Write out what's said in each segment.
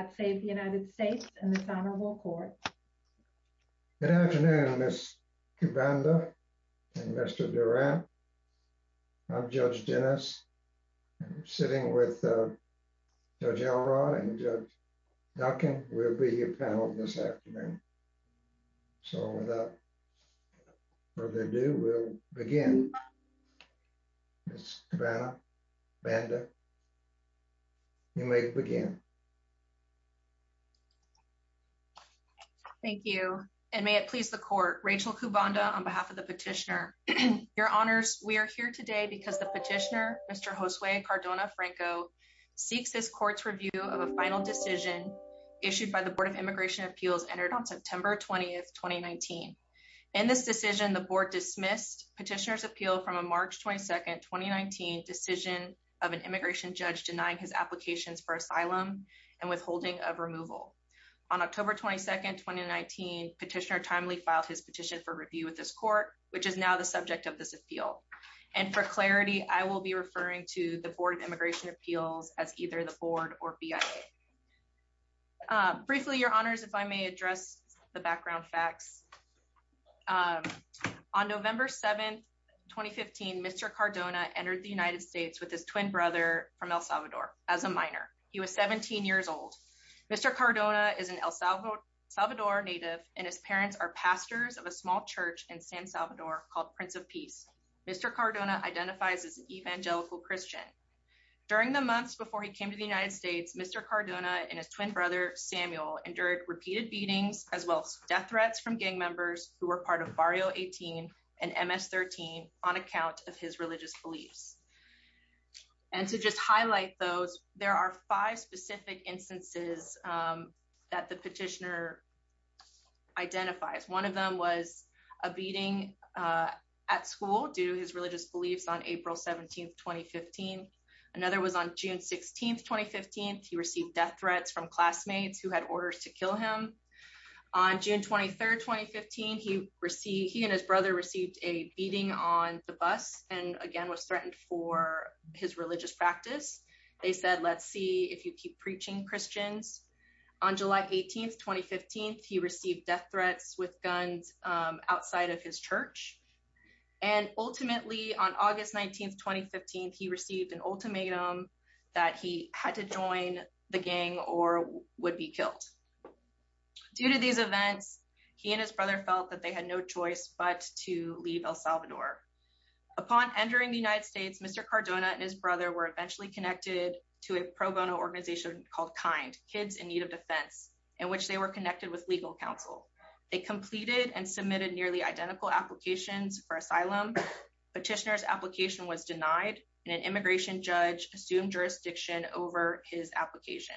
at Save the United States in this Honorable Court. Good afternoon, Ms. Cabana and Mr. Durant. I'm Judge Dennis. I'm sitting with Judge Elrod and Judge Duncan. We'll be your panel this afternoon. So without further ado, we'll begin. Ms. Cabana, Banda, you may begin. Thank you, and may it please the court. Rachel Cubanda on behalf of the petitioner. Your honors, we are here today because the petitioner, Mr. Josue Cardona-Franco, seeks this court's review of a final decision issued by the Board of Immigration Appeals entered on September 20th, 2019. In this decision, the board dismissed petitioner's appeal from a March 22nd, 2019 decision of an immigration judge denying his applications for asylum and withholding of removal. On October 22nd, 2019, petitioner timely filed his petition for review with this court, which is now the subject of this appeal. And for clarity, I will be referring to the Board of Immigration Appeals as either the board or BIA. Briefly, your honors, if I may address the background facts. On November 7th, 2015, Mr. Cardona entered the United States with his twin brother from El Salvador as a minor. He was 17 years old. Mr. Cardona is an El Salvador native and his parents are pastors of a small church in San Salvador called Prince of Peace. Mr. Cardona identifies as an evangelical Christian. During the months before he came to the United States, Mr. Cardona and his twin brother Samuel endured repeated beatings as well as death threats from gang members who were part of Barrio 18 and MS 13 on account of his religious beliefs. And to just highlight those, there are five specific instances that the petitioner identifies. One of them was a beating at school due to his religious beliefs on April 17th, 2015. Another was on June 16th, 2015. He received death threats from classmates who had orders to kill him. On June 23rd, 2015, he and his brother received a beating on the bus and again was threatened for his religious practice. They said, let's see if you keep preaching Christians. On July 18th, 2015, he received death threats with guns outside of his church. And ultimately on August 19th, 2015, he received an ultimatum that he had to join the gang or would be killed. Due to these events, he and his brother felt that they had no choice but to leave El Salvador. Upon entering the United States, Mr. Cardona and his brother were eventually connected to a pro bono organization called KIND, Kids in Need of Defense, in which they were connected with legal counsel. They completed and submitted nearly identical applications for asylum. Petitioner's application was denied and an immigration judge assumed jurisdiction over his application.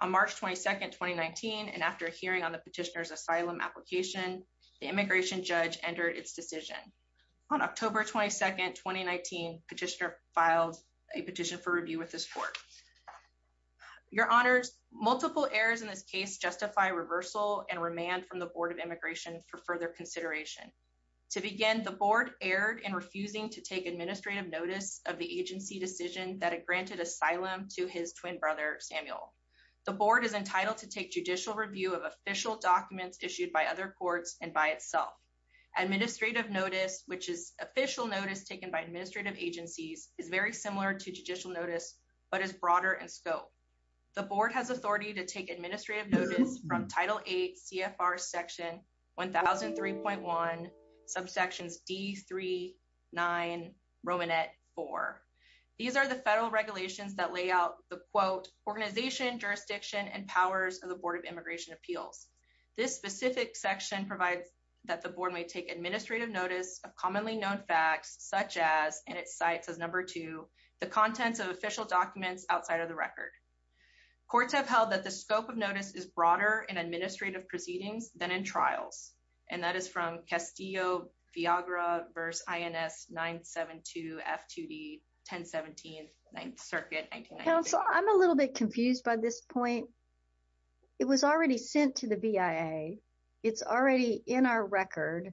On March 22nd, 2019, and after hearing on the petitioner's asylum application, the immigration judge entered its decision. On October 22nd, 2019, petitioner filed a petition for review with this court. Your honors, multiple errors in this case justify reversal and remand from the Board of Immigration for further consideration. To begin, the board erred in refusing to take administrative notice of the agency decision that had granted asylum to his twin brother, Samuel. The board is entitled to take judicial review of official documents issued by other courts and by itself. Administrative notice, which is official notice taken by administrative agencies, is very similar to judicial notice, but is broader in scope. The board has authority to take administrative notice from Title VIII CFR Section 1003.1, subsections D39, Romanet 4. These are the federal regulations that lay out the, quote, organization, jurisdiction, and powers of the Board of Immigration Appeals. This specific section provides that the board may take administrative notice of commonly known facts, such as, and it cites as number two, the contents of official documents outside of the record. Courts have held that the scope of notice is broader in administrative proceedings than in trials, and that is from Castillo-Viagra v. INS 972 F2D 1017, 9th Circuit, 1996. Counsel, I'm a little bit confused by this point. It was already sent to the BIA. It's already in our record.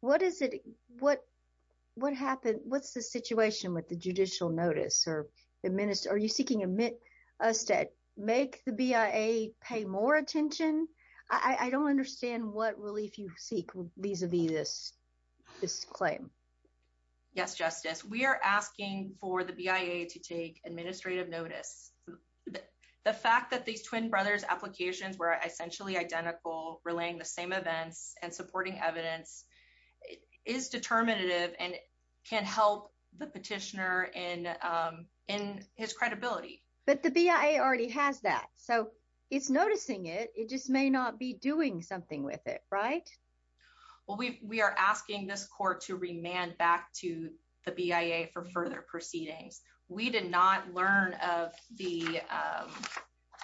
What is it, what, what happened, what's the situation with the judicial notice or administer, are you seeking us to make the BIA pay more attention? I don't understand what relief you seek vis-a-vis this, this claim. Yes, Justice, we are asking for the BIA to take administrative notice. The fact that these twin brothers' applications were essentially identical, relaying the same events, and supporting evidence is determinative and can help the petitioner in, in his credibility. But the BIA already has that, so it's noticing it, it just may not be doing something with it, right? Well, we, we are asking this court to remand back to the BIA for further proceedings. We did not learn of the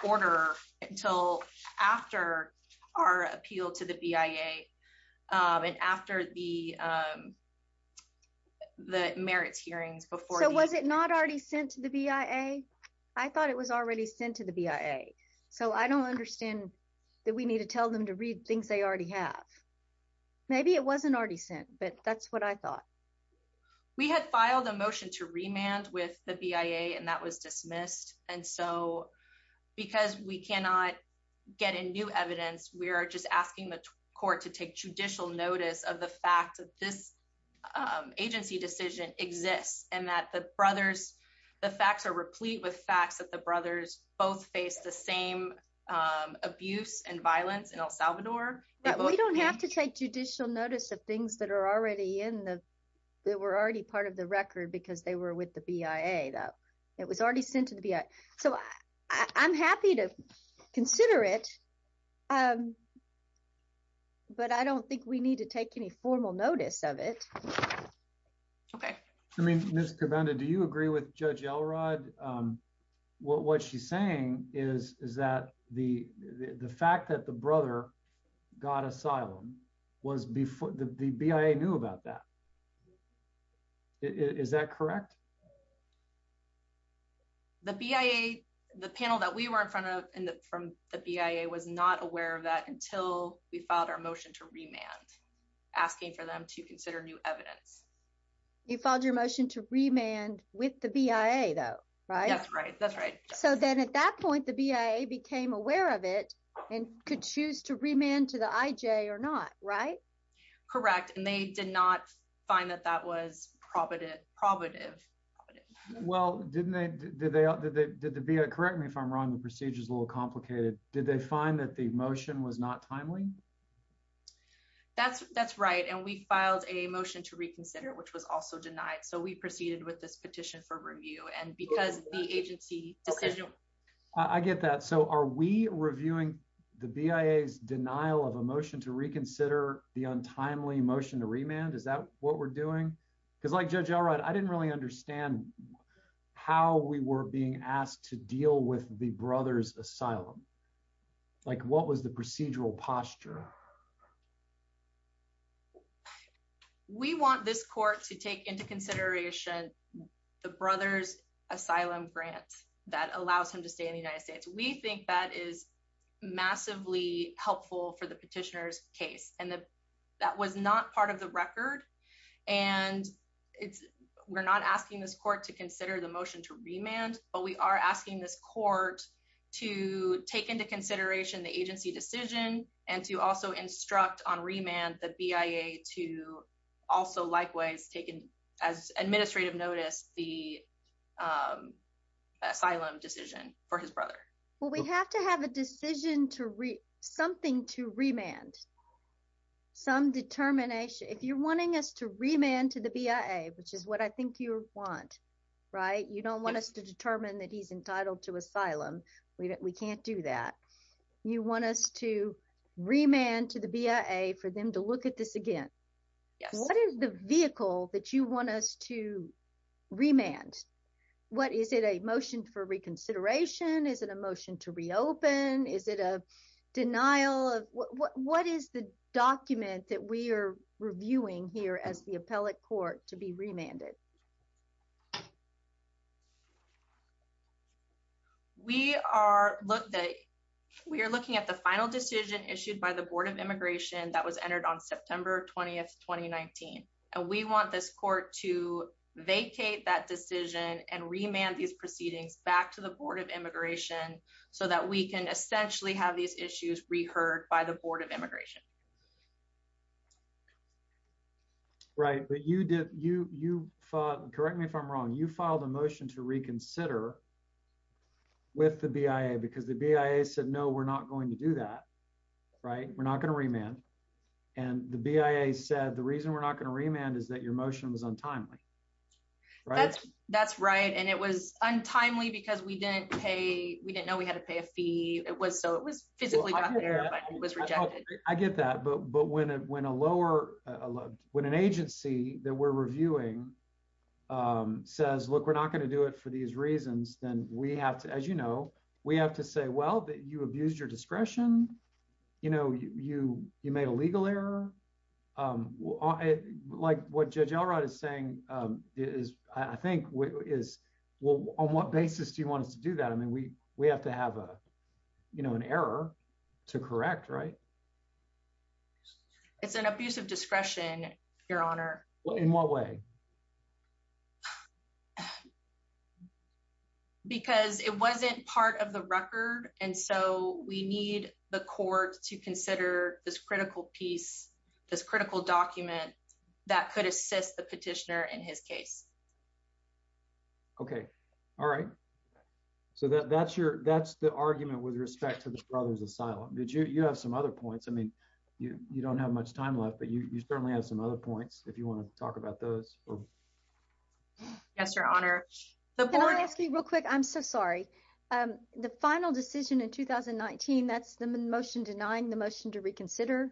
order until after our appeal to the BIA and after the, the merits hearings before. So was it not already sent to the BIA? I thought it was already sent to the BIA. So I don't understand that we need to tell them to read things they already have. Maybe it wasn't already sent, but that's what I thought. We had filed a motion to remand with the BIA and that was dismissed. And so because we cannot get in new evidence, we are just asking the court to take judicial notice of the fact that this agency decision exists and that the brothers, the facts are replete with facts that the brothers both face the same abuse and violence in El Salvador. But we don't have to take judicial notice of things that are already in the, that were already part of the record because they were with the BIA. It was already sent to the BIA. So I'm happy to consider it, but I don't think we need to take any formal notice of it. Okay. I mean, Ms. Cabanda, do you agree with Judge Elrod? What she's saying is that the fact that the brother got asylum was before the BIA knew about that. Is that correct? The BIA, the panel that we were in front of from the BIA was not aware of that until we filed our motion to remand asking for them to consider new evidence. You filed your motion to remand with the BIA though, right? That's right. So then at that point, the BIA became aware of it and could choose to remand to the IJ or not, right? Correct. And they did not find that that was probative. Well, didn't they, did the BIA, correct me if I'm wrong, the procedure is a little complicated. Did they find that the motion was not timely? That's right. And we filed a motion to reconsider, which was also denied. So we proceeded with this petition for review and because the agency decision. I get that. So are we reviewing the BIA's denial of a motion to reconsider the untimely motion to remand? Is that what we're doing? Because like Judge Elrod, I didn't really understand how we were being asked to deal with the brother's asylum. Like what was the procedural posture? We want this court to take into consideration the brother's asylum grant that allows him to stay in the United States. We think that is massively helpful for the petitioner's case. And that was not part of the record. And we're not asking this court to consider the motion to remand, but we are asking this court to take into consideration the agency decision and to also instruct on remand the BIA to also, likewise, taking as administrative notice the asylum decision for his brother. Well, we have to have a decision to something to remand. Some determination. If you're wanting us to remand to the BIA, which is what I think you want, right? You don't want us to determine that he's entitled to asylum. We can't do that. You want us to remand to the BIA for them to look at this again. What is the vehicle that you want us to remand? What is it a motion for reconsideration? Is it a motion to reopen? Is it a denial of what is the document that we are reviewing here as the appellate court to be remanded? We are looking at the final decision issued by the Board of Immigration that was entered on September 20th, 2019. And we want this court to vacate that decision and remand these proceedings back to the Board of Immigration so that we can essentially have these issues reheard by the Board of Immigration. Right. But you did, you, you, correct me if I'm wrong. You filed a motion to reconsider with the BIA because the BIA said, no, we're not going to do that, right? We're not going to remand. And the BIA said, the reason we're not going to remand is that your motion was untimely, right? That's right. And it was untimely because we didn't pay. We didn't know we had to pay a fee. It was so it was physically was rejected. I get that. But when, when a lower, when an agency that we're reviewing says, look, we're not going to do it for these reasons, then we have to, as you know, we have to say, well, that you abused your discretion. You know, you, you made a legal error. Like what Judge Elrod is saying is, I think is, well, on what basis do you want us to do that? I mean, we, we have to have a, you know, an error to correct, right? It's an abuse of discretion, Your Honor. In what way? Because it wasn't part of the record. And so we need the court to consider this critical piece, this critical document that could assist the petitioner in his case. Okay. All right. So that's your, that's the argument with respect to the brothers asylum. Did you, you have some other points. You don't have much time left, but you certainly have some other points if you want to talk about those. Yes, Your Honor. Can I ask you real quick? I'm so sorry. The final decision in 2019, that's the motion denying the motion to reconsider.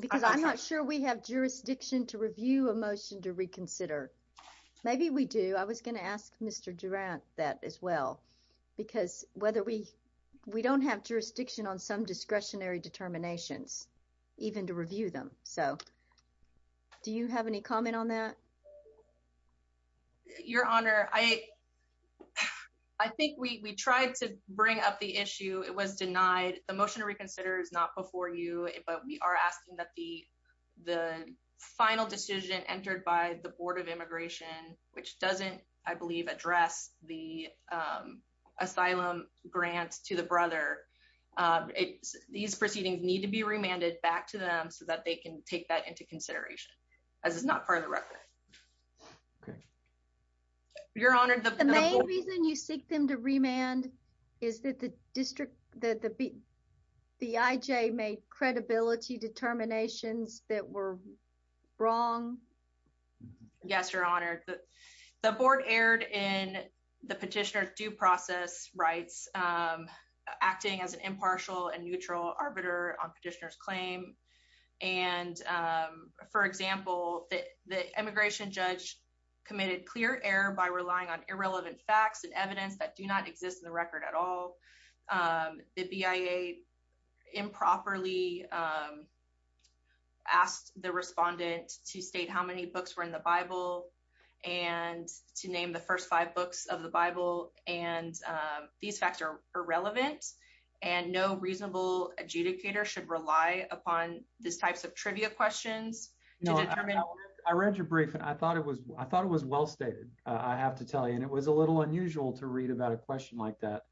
Because I'm not sure we have jurisdiction to review a motion to reconsider. Maybe we do. I was going to ask Mr. Durant that as well. Because whether we, we don't have jurisdiction on some discretionary determinations, even to review them. So do you have any comment on that? Your Honor, I, I think we, we tried to bring up the issue. It was denied. The motion to reconsider is not before you, but we are asking that the, the final decision entered by the board of immigration, which doesn't, I believe, address the asylum grant to the brother. These proceedings need to be remanded back to them so that they can take that into consideration. As it's not part of the record. Your Honor, the main reason you seek them to remand is that the district, that the, the IJ made credibility determinations that were wrong. Yes, Your Honor, the, the board erred in the petitioner's due process rights, acting as an impartial and neutral arbiter on petitioner's claim. And for example, the, the immigration judge committed clear error by relying on irrelevant facts and evidence that do not exist in the record at all. The BIA improperly asked the respondent to state how many books were in the Bible and to name the first five books of the Bible. And these facts are irrelevant and no reasonable adjudicator should rely upon this types of trivia questions. I read your brief and I thought it was, I thought it was well-stated. I have to tell you, and it was a little unusual to read about a question like that.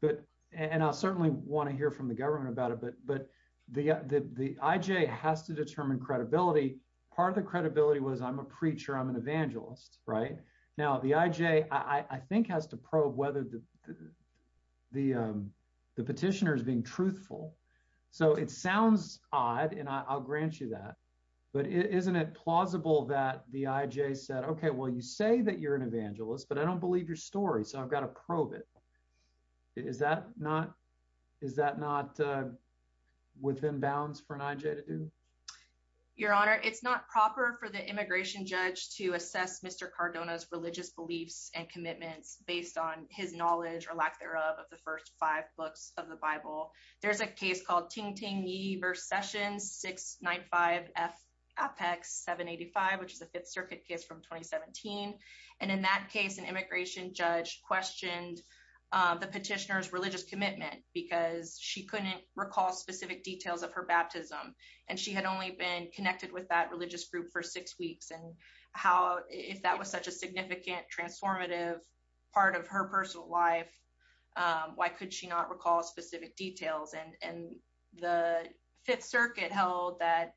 But, and I'll certainly want to hear from the government about it, but, the, the, the IJ has to determine credibility. Part of the credibility was I'm a preacher, I'm an evangelist, right? Now the IJ, I think has to probe whether the, the, the petitioner is being truthful. So it sounds odd and I'll grant you that. But isn't it plausible that the IJ said, okay, well, you say that you're an evangelist, but I don't believe your story. So I've got to probe it. Is that not, is that not within bounds for an IJ to do? Your honor, it's not proper for the immigration judge to assess Mr. Cardona's religious beliefs and commitments based on his knowledge or lack thereof of the first five books of the Bible. There's a case called Ting Ting Ye versus Sessions 695 F Apex 785, which is a fifth circuit case from 2017. And in that case, an immigration judge questioned the petitioner's religious commitment because she couldn't recall specific details of her baptism. And she had only been connected with that religious group for six weeks. And how, if that was such a significant transformative part of her personal life, why could she not recall specific details? And, and the fifth circuit held that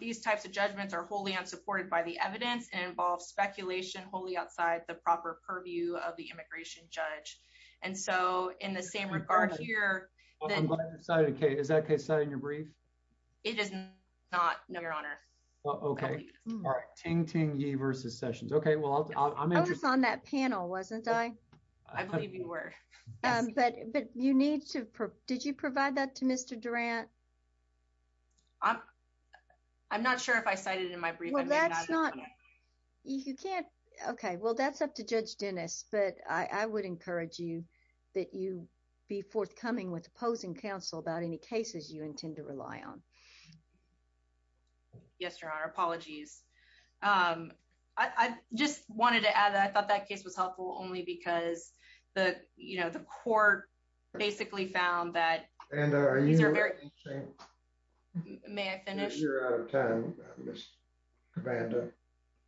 these types of judgments are wholly unsupported by the evidence and involve speculation, wholly outside the proper purview of the immigration judge. And so in the same regard here, Is that case cited in your brief? It is not, no, your honor. Okay. Ting Ting Ye versus Sessions. Okay. Well, I'm interested on that panel, wasn't I? I believe you were, but, but you need to, did you provide that to Mr. Durant? I'm, I'm not sure if I cited it in my brief. Well, that's not, you can't. Okay. Well, that's up to judge Dennis, but I would encourage you that you be forthcoming with opposing counsel about any cases you intend to rely on. Yes, your honor. Apologies. Um, I just wanted to add that. I thought that case was helpful only because the, you know, the court basically found that and, uh, these are very interesting. May I finish? You're out of time.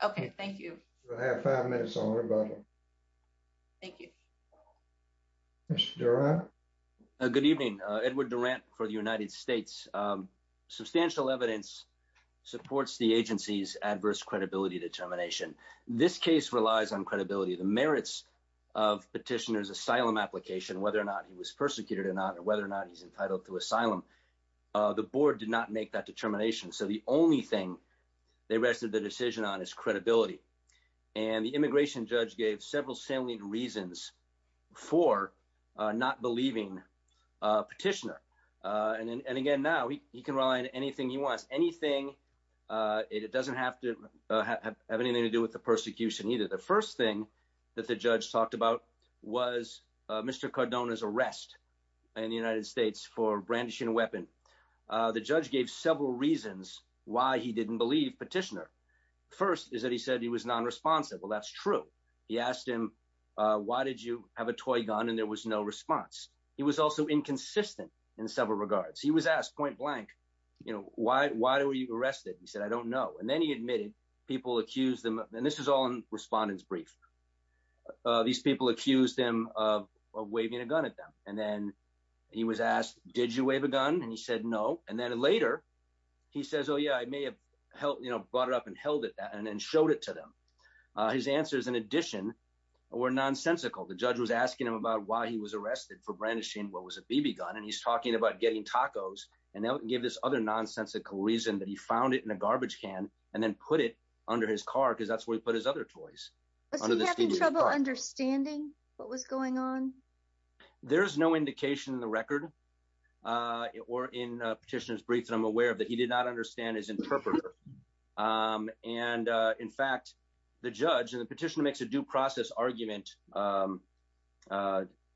Okay. Thank you. We'll have five minutes on rebuttal. Thank you. Good evening, Edward Durant for the United States. Substantial evidence supports the agency's adverse credibility determination. This case relies on credibility, the merits of petitioner's asylum application, whether or not he was persecuted or not, or whether or not he's entitled to asylum. The board did not make that determination. So the only thing they rested the decision on is credibility. And the immigration judge gave several salient reasons for not believing petitioner. And then, and again, now he can rely on anything he wants, anything. It doesn't have to have anything to do with the persecution either. The first thing that the judge talked about was Mr. Cardona's arrest in the United States for brandishing a weapon. The judge gave several reasons why he didn't believe petitioner. First is that he said he was non-responsive. Well, that's true. He asked him, why did you have a toy gun? And there was no response. He was also inconsistent in several regards. He was asked point blank, you know, why, why were you arrested? He said, I don't know. And then he admitted people accused them. And this is all in respondent's brief. These people accused him of waving a gun at them. And then he was asked, did you wave a gun? And he said, no. And then later he says, oh yeah, I may have helped, you know, brought it up and held it that and then showed it to them. His answers in addition were nonsensical. The judge was asking him about why he was arrested for brandishing what was a BB gun. And he's talking about getting tacos. And that would give this other nonsensical reason that he found it in a garbage can and then put it under his car because that's where he put his other toys. Was he having trouble understanding what was going on? There's no indication in the record or in petitioner's brief that I'm aware of that he did not understand his interpreter. And in fact, the judge and the petitioner makes a due process argument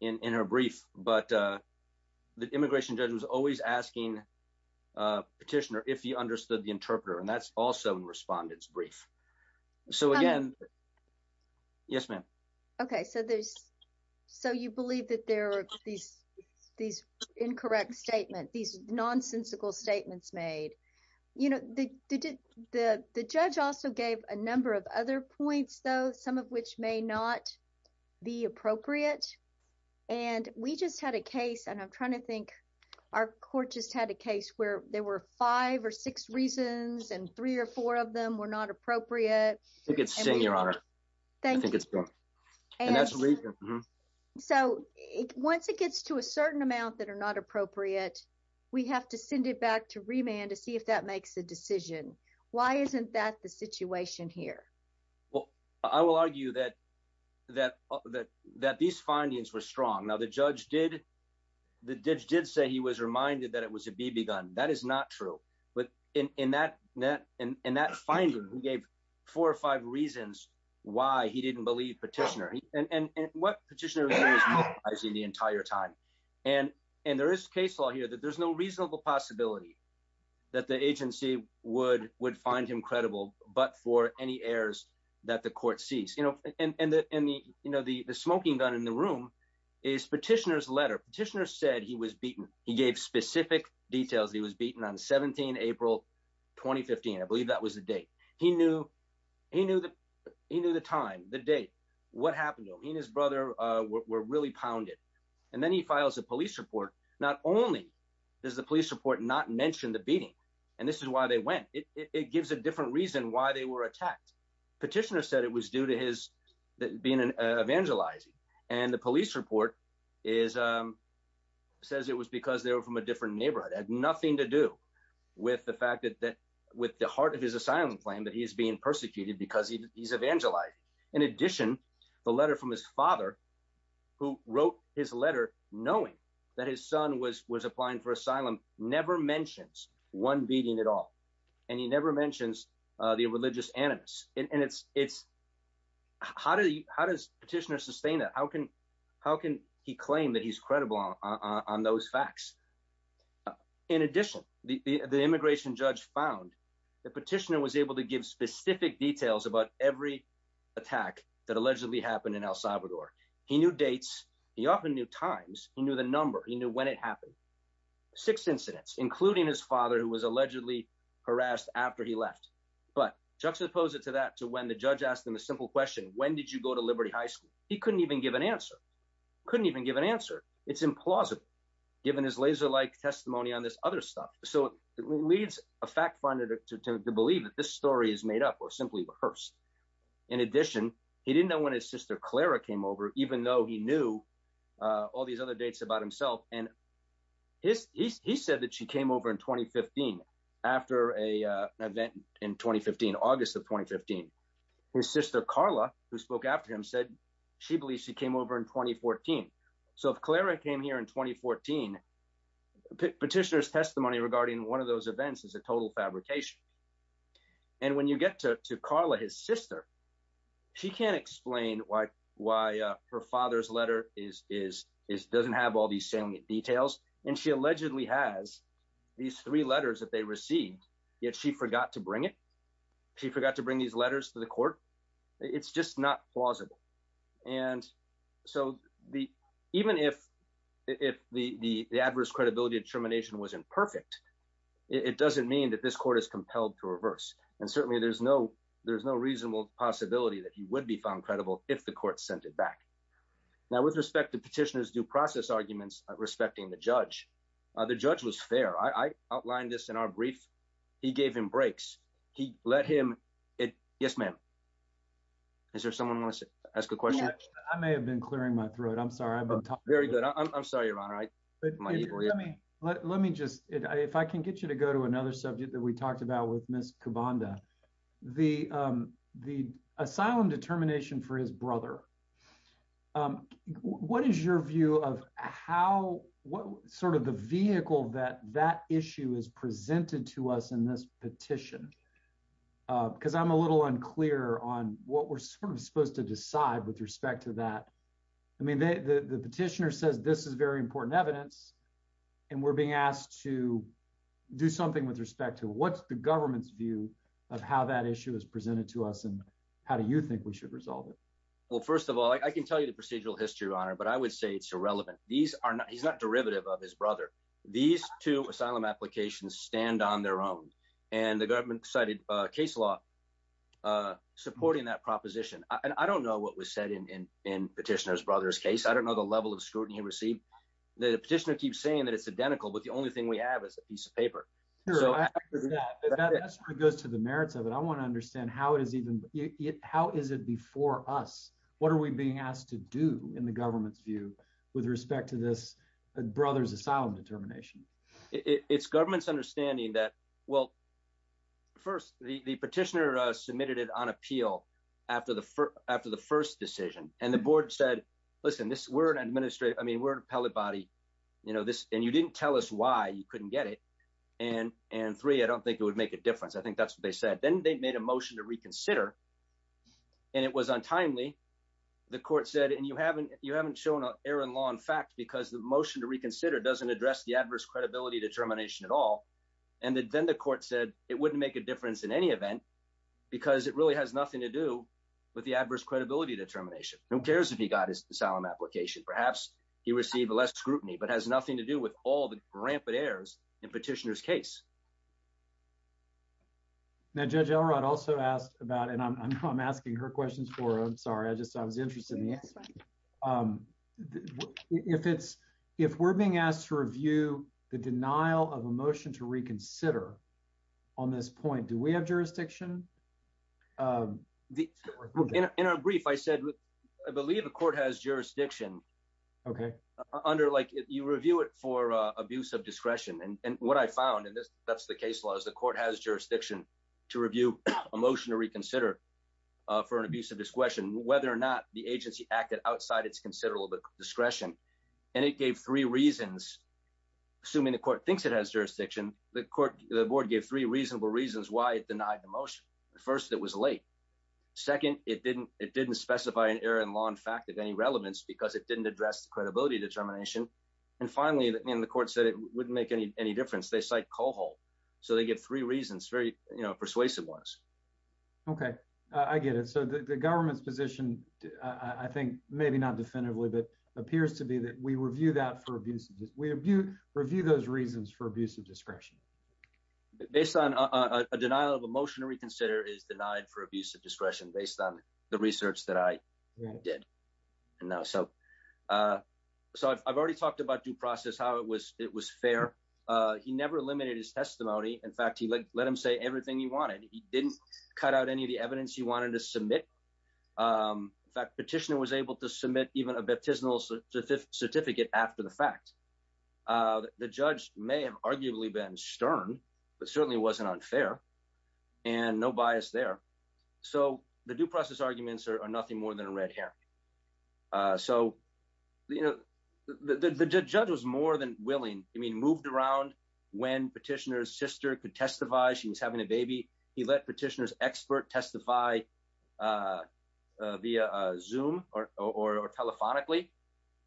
in her brief. But the immigration judge was always asking petitioner if he understood the interpreter. And that's also in respondent's brief. So again, yes, ma'am. OK, so there's so you believe that there are these incorrect statements, these nonsensical statements made, you know, the judge also gave a number of other points, though, some of which may not be appropriate. And we just had a case and I'm trying to think our court just had a case where there were five or six reasons and three or four of them were not appropriate. I think it's saying your honor. Thank you. So once it gets to a certain amount that are not appropriate, we have to send it back to remand to see if that makes a decision. Why isn't that the situation here? Well, I will argue that that that that these findings were strong. Now, the judge did the judge did say he was reminded that it was a BB gun. That is not true. But in that net and that finding, we gave four or five reasons why he didn't believe petitioner and what petitioner is in the entire time. And and there is case law here that there's no reasonable possibility that the agency would would find him credible. But for any errors that the court sees, you know, and the you know, the smoking gun in the room is petitioner's letter. Petitioner said he was beaten. He gave specific details. He was beaten on 17 April 2015. I believe that was the date he knew. He knew that he knew the time, the date, what happened to him. He and his brother were really pounded. And then he files a police report. Not only does the police report not mention the beating. And this is why they went. It gives a different reason why they were attacked. Petitioner said it was due to his being an evangelizing. And the police report is says it was because they were from a different neighborhood. Had nothing to do with the fact that that with the heart of his asylum claim that he is being persecuted because he's evangelizing. In addition, the letter from his father who wrote his letter knowing that his son was beating at all and he never mentions the religious animus. And it's it's. How do you how does petitioner sustain that? How can how can he claim that he's credible on those facts? In addition, the immigration judge found the petitioner was able to give specific details about every attack that allegedly happened in El Salvador. He knew dates. He often knew times. He knew the number. He knew when it happened. Six incidents, including his father, who was allegedly harassed after he left. But juxtapose it to that to when the judge asked him a simple question. When did you go to Liberty High School? He couldn't even give an answer. Couldn't even give an answer. It's implausible given his laser like testimony on this other stuff. So it leads a fact finder to believe that this story is made up or simply rehearsed. In addition, he didn't know when his sister Clara came over, even though he knew all these other dates about himself. And his he said that she came over in 2015 after a event in 2015, August of 2015. His sister Carla, who spoke after him, said she believes she came over in 2014. So if Clara came here in 2014, petitioner's testimony regarding one of those events is a total fabrication. And when you get to Carla, his sister, she can't explain why why her father's letter is doesn't have all these details. And she allegedly has these three letters that they received. Yet she forgot to bring it. She forgot to bring these letters to the court. It's just not plausible. And so the even if if the adverse credibility determination wasn't perfect, it doesn't mean that this court is compelled to reverse. And certainly there's no there's no reasonable possibility that he would be found credible if the court sent it back. Now, with respect to petitioners due process arguments respecting the judge, the judge was fair. I outlined this in our brief. He gave him breaks. He let him. It Yes, ma'am. Is there someone wants to ask a question? I may have been clearing my throat. I'm sorry. I'm very good. I'm sorry, your honor. I let me let me just if I can get you to go to another subject that we talked about with What is your view of how what sort of the vehicle that that issue is presented to us in this petition? Because I'm a little unclear on what we're supposed to decide with respect to that. I mean, the petitioner says this is very important evidence. And we're being asked to do something with respect to what's the government's view of how that issue is presented to us? And how do you think we should resolve it? Well, first of all, I can tell you the procedural history, your honor, but I would say it's irrelevant. These are not he's not derivative of his brother. These two asylum applications stand on their own. And the government cited case law supporting that proposition. And I don't know what was said in petitioner's brother's case. I don't know the level of scrutiny he received. The petitioner keeps saying that it's identical. But the only thing we have is a piece of paper that goes to the merits of it. How is it before us? What are we being asked to do in the government's view with respect to this brother's asylum determination? It's government's understanding that, well, first, the petitioner submitted it on appeal after the first decision. And the board said, listen, we're an administrative. I mean, we're an appellate body. And you didn't tell us why you couldn't get it. And three, I don't think it would make a difference. I think that's what they said. Then they made a motion to reconsider. And it was untimely. The court said, and you haven't shown an error in law in fact because the motion to reconsider doesn't address the adverse credibility determination at all. And then the court said it wouldn't make a difference in any event because it really has nothing to do with the adverse credibility determination. Who cares if he got his asylum application? Perhaps he received less scrutiny but has nothing to do with all the rampant errors in petitioner's case. Now, Judge Elrod also asked about, and I'm asking her questions for her. I'm sorry. I just I was interested in the answer. If we're being asked to review the denial of a motion to reconsider on this point, do we have jurisdiction? In our brief, I said, I believe the court has jurisdiction under like you review it for abuse of discretion. And what I found in this, that's the case laws. The court has jurisdiction to review a motion to reconsider for an abuse of discretion, whether or not the agency acted outside it's considerable discretion. And it gave three reasons. Assuming the court thinks it has jurisdiction, the court, the board gave three reasonable reasons why it denied the motion. First, it was late. Second, it didn't specify an error in law in fact of any relevance because it didn't address the credibility determination. And finally, in the court said it wouldn't make any difference. They cite Coho. So they get three reasons, very persuasive ones. OK, I get it. So the government's position, I think, maybe not definitively, but appears to be that we review that for abuse. We review those reasons for abuse of discretion. Based on a denial of a motion to reconsider is denied for abuse of discretion based on the research that I did. Now, so so I've already talked about due process, how it was it was fair. He never eliminated his testimony. In fact, he let him say everything he wanted. He didn't cut out any of the evidence he wanted to submit. In fact, petitioner was able to submit even a baptismal certificate after the fact. The judge may have arguably been stern, but certainly wasn't unfair and no bias there. So the due process arguments are nothing more than red hair. So, you know, the judge was more than willing. I mean, moved around when petitioner's sister could testify. She was having a baby. He let petitioner's expert testify via Zoom or telephonically.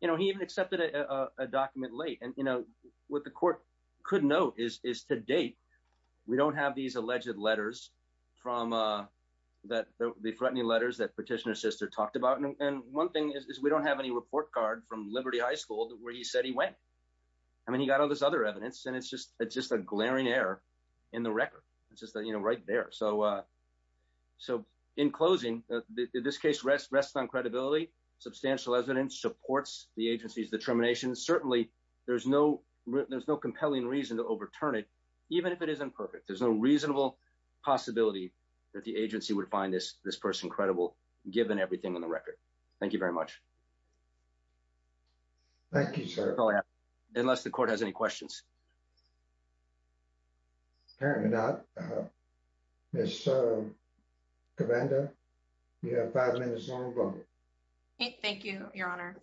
You know, he even accepted a document late. And, you know, what the court could note is to date, we don't have these alleged letters from that threatening letters that petitioner's sister talked about. And one thing is we don't have any report card from Liberty High School where he said he went. I mean, he got all this other evidence. And it's just it's just a glaring error in the record. It's just, you know, right there. So so in closing, this case rests on credibility. Substantial evidence supports the agency's determination. Certainly, there's no there's no compelling reason to overturn it, even if it isn't perfect. There's no reasonable possibility that the agency would find this this person given everything in the record. Thank you very much. Thank you, sir. Unless the court has any questions. Apparently not. Yes. Thank you, Your Honor.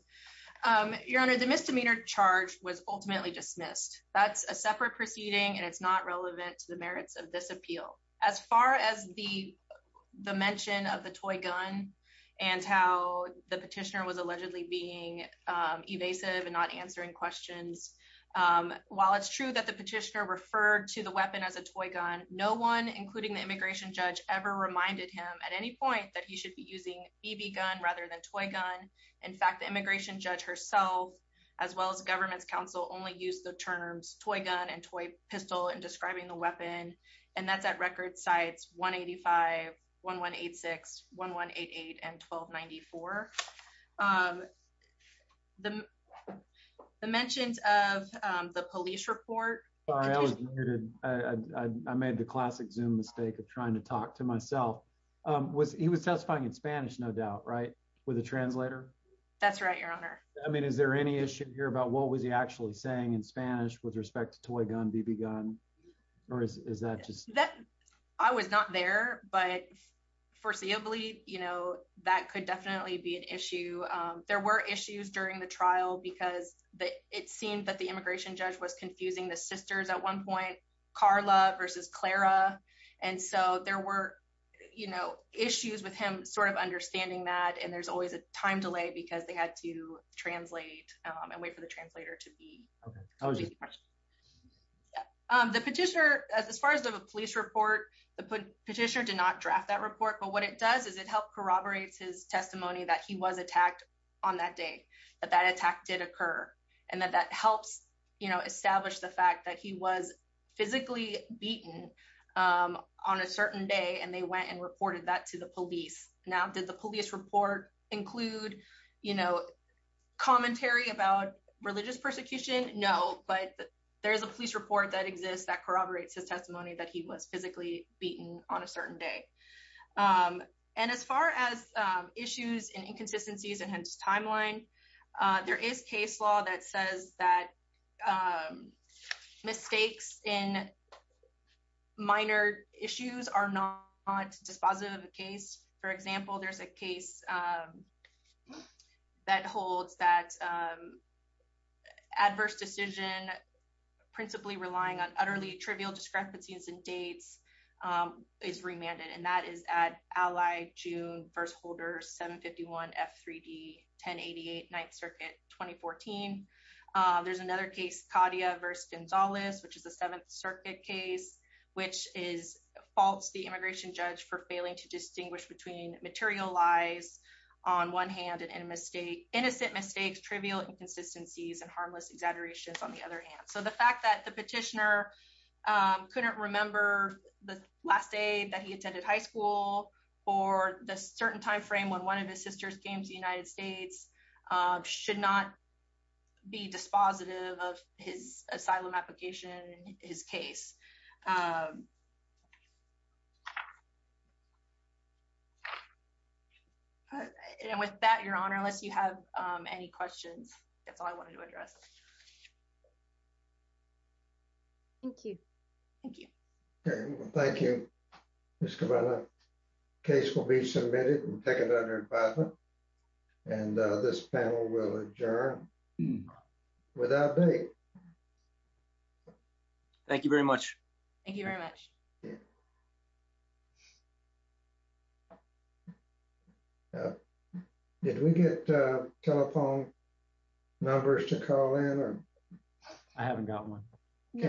Your Honor, the misdemeanor charge was ultimately dismissed. That's a separate proceeding. And it's not relevant to the merits of this appeal. As far as the the mention of the toy gun and how the petitioner was allegedly being evasive and not answering questions, while it's true that the petitioner referred to the weapon as a toy gun, no one, including the immigration judge, ever reminded him at any point that he should be using BB gun rather than toy gun. In fact, the immigration judge herself, as well as government's counsel, only used the terms toy gun and toy pistol and describing the weapon. And that's at record sites, 185, 1186, 1188 and 1294. The mentions of the police report. Sorry, I was muted. I made the classic Zoom mistake of trying to talk to myself. He was testifying in Spanish, no doubt, right? With a translator. That's right, Your Honor. I mean, is there any issue here about what was he actually saying in Spanish with respect to toy gun, BB gun, or is that just that? I was not there, but foreseeably, you know, that could definitely be an issue. There were issues during the trial because it seemed that the immigration judge was confusing the sisters at one point, Carla versus Clara. And so there were, you know, issues with him sort of understanding that. And there's always a time delay because they had to translate and wait for the translator to be okay. The petitioner, as far as the police report, the petitioner did not draft that report. But what it does is it helped corroborate his testimony that he was attacked on that day, that that attack did occur. And that that helps, you know, establish the fact that he was physically beaten on a certain day, and they went and reported that to the police. Now, did the police report include, you know, commentary about religious persecution? No, but there is a police report that exists that corroborates his testimony that he was physically beaten on a certain day. And as far as issues and inconsistencies in his timeline, there is case law that says that mistakes in minor issues are not dispositive of the case. For example, there's a case that holds that adverse decision principally relying on utterly trivial discrepancies and dates is remanded. And that is at ally June first holders 751 F 3d 1088 Ninth Circuit 2014. There's another case cadia versus Gonzalez, which is the Seventh Circuit case, which is false, the immigration judge for failing to distinguish between material lies, on one hand and in mistake, innocent mistakes, trivial inconsistencies and harmless exaggerations on the other hand, so the fact that the petitioner couldn't remember the last day that he attended high school, or the certain timeframe when one of his sister's games United States should not be dispositive of his asylum application, his case. And with that, Your Honor, unless you have any questions, that's all I wanted to address. Thank you. Thank you. Thank you. This case will be submitted and this panel will adjourn without me. Thank you very much. Thank you very much. Did we get telephone numbers to call in or I haven't got one.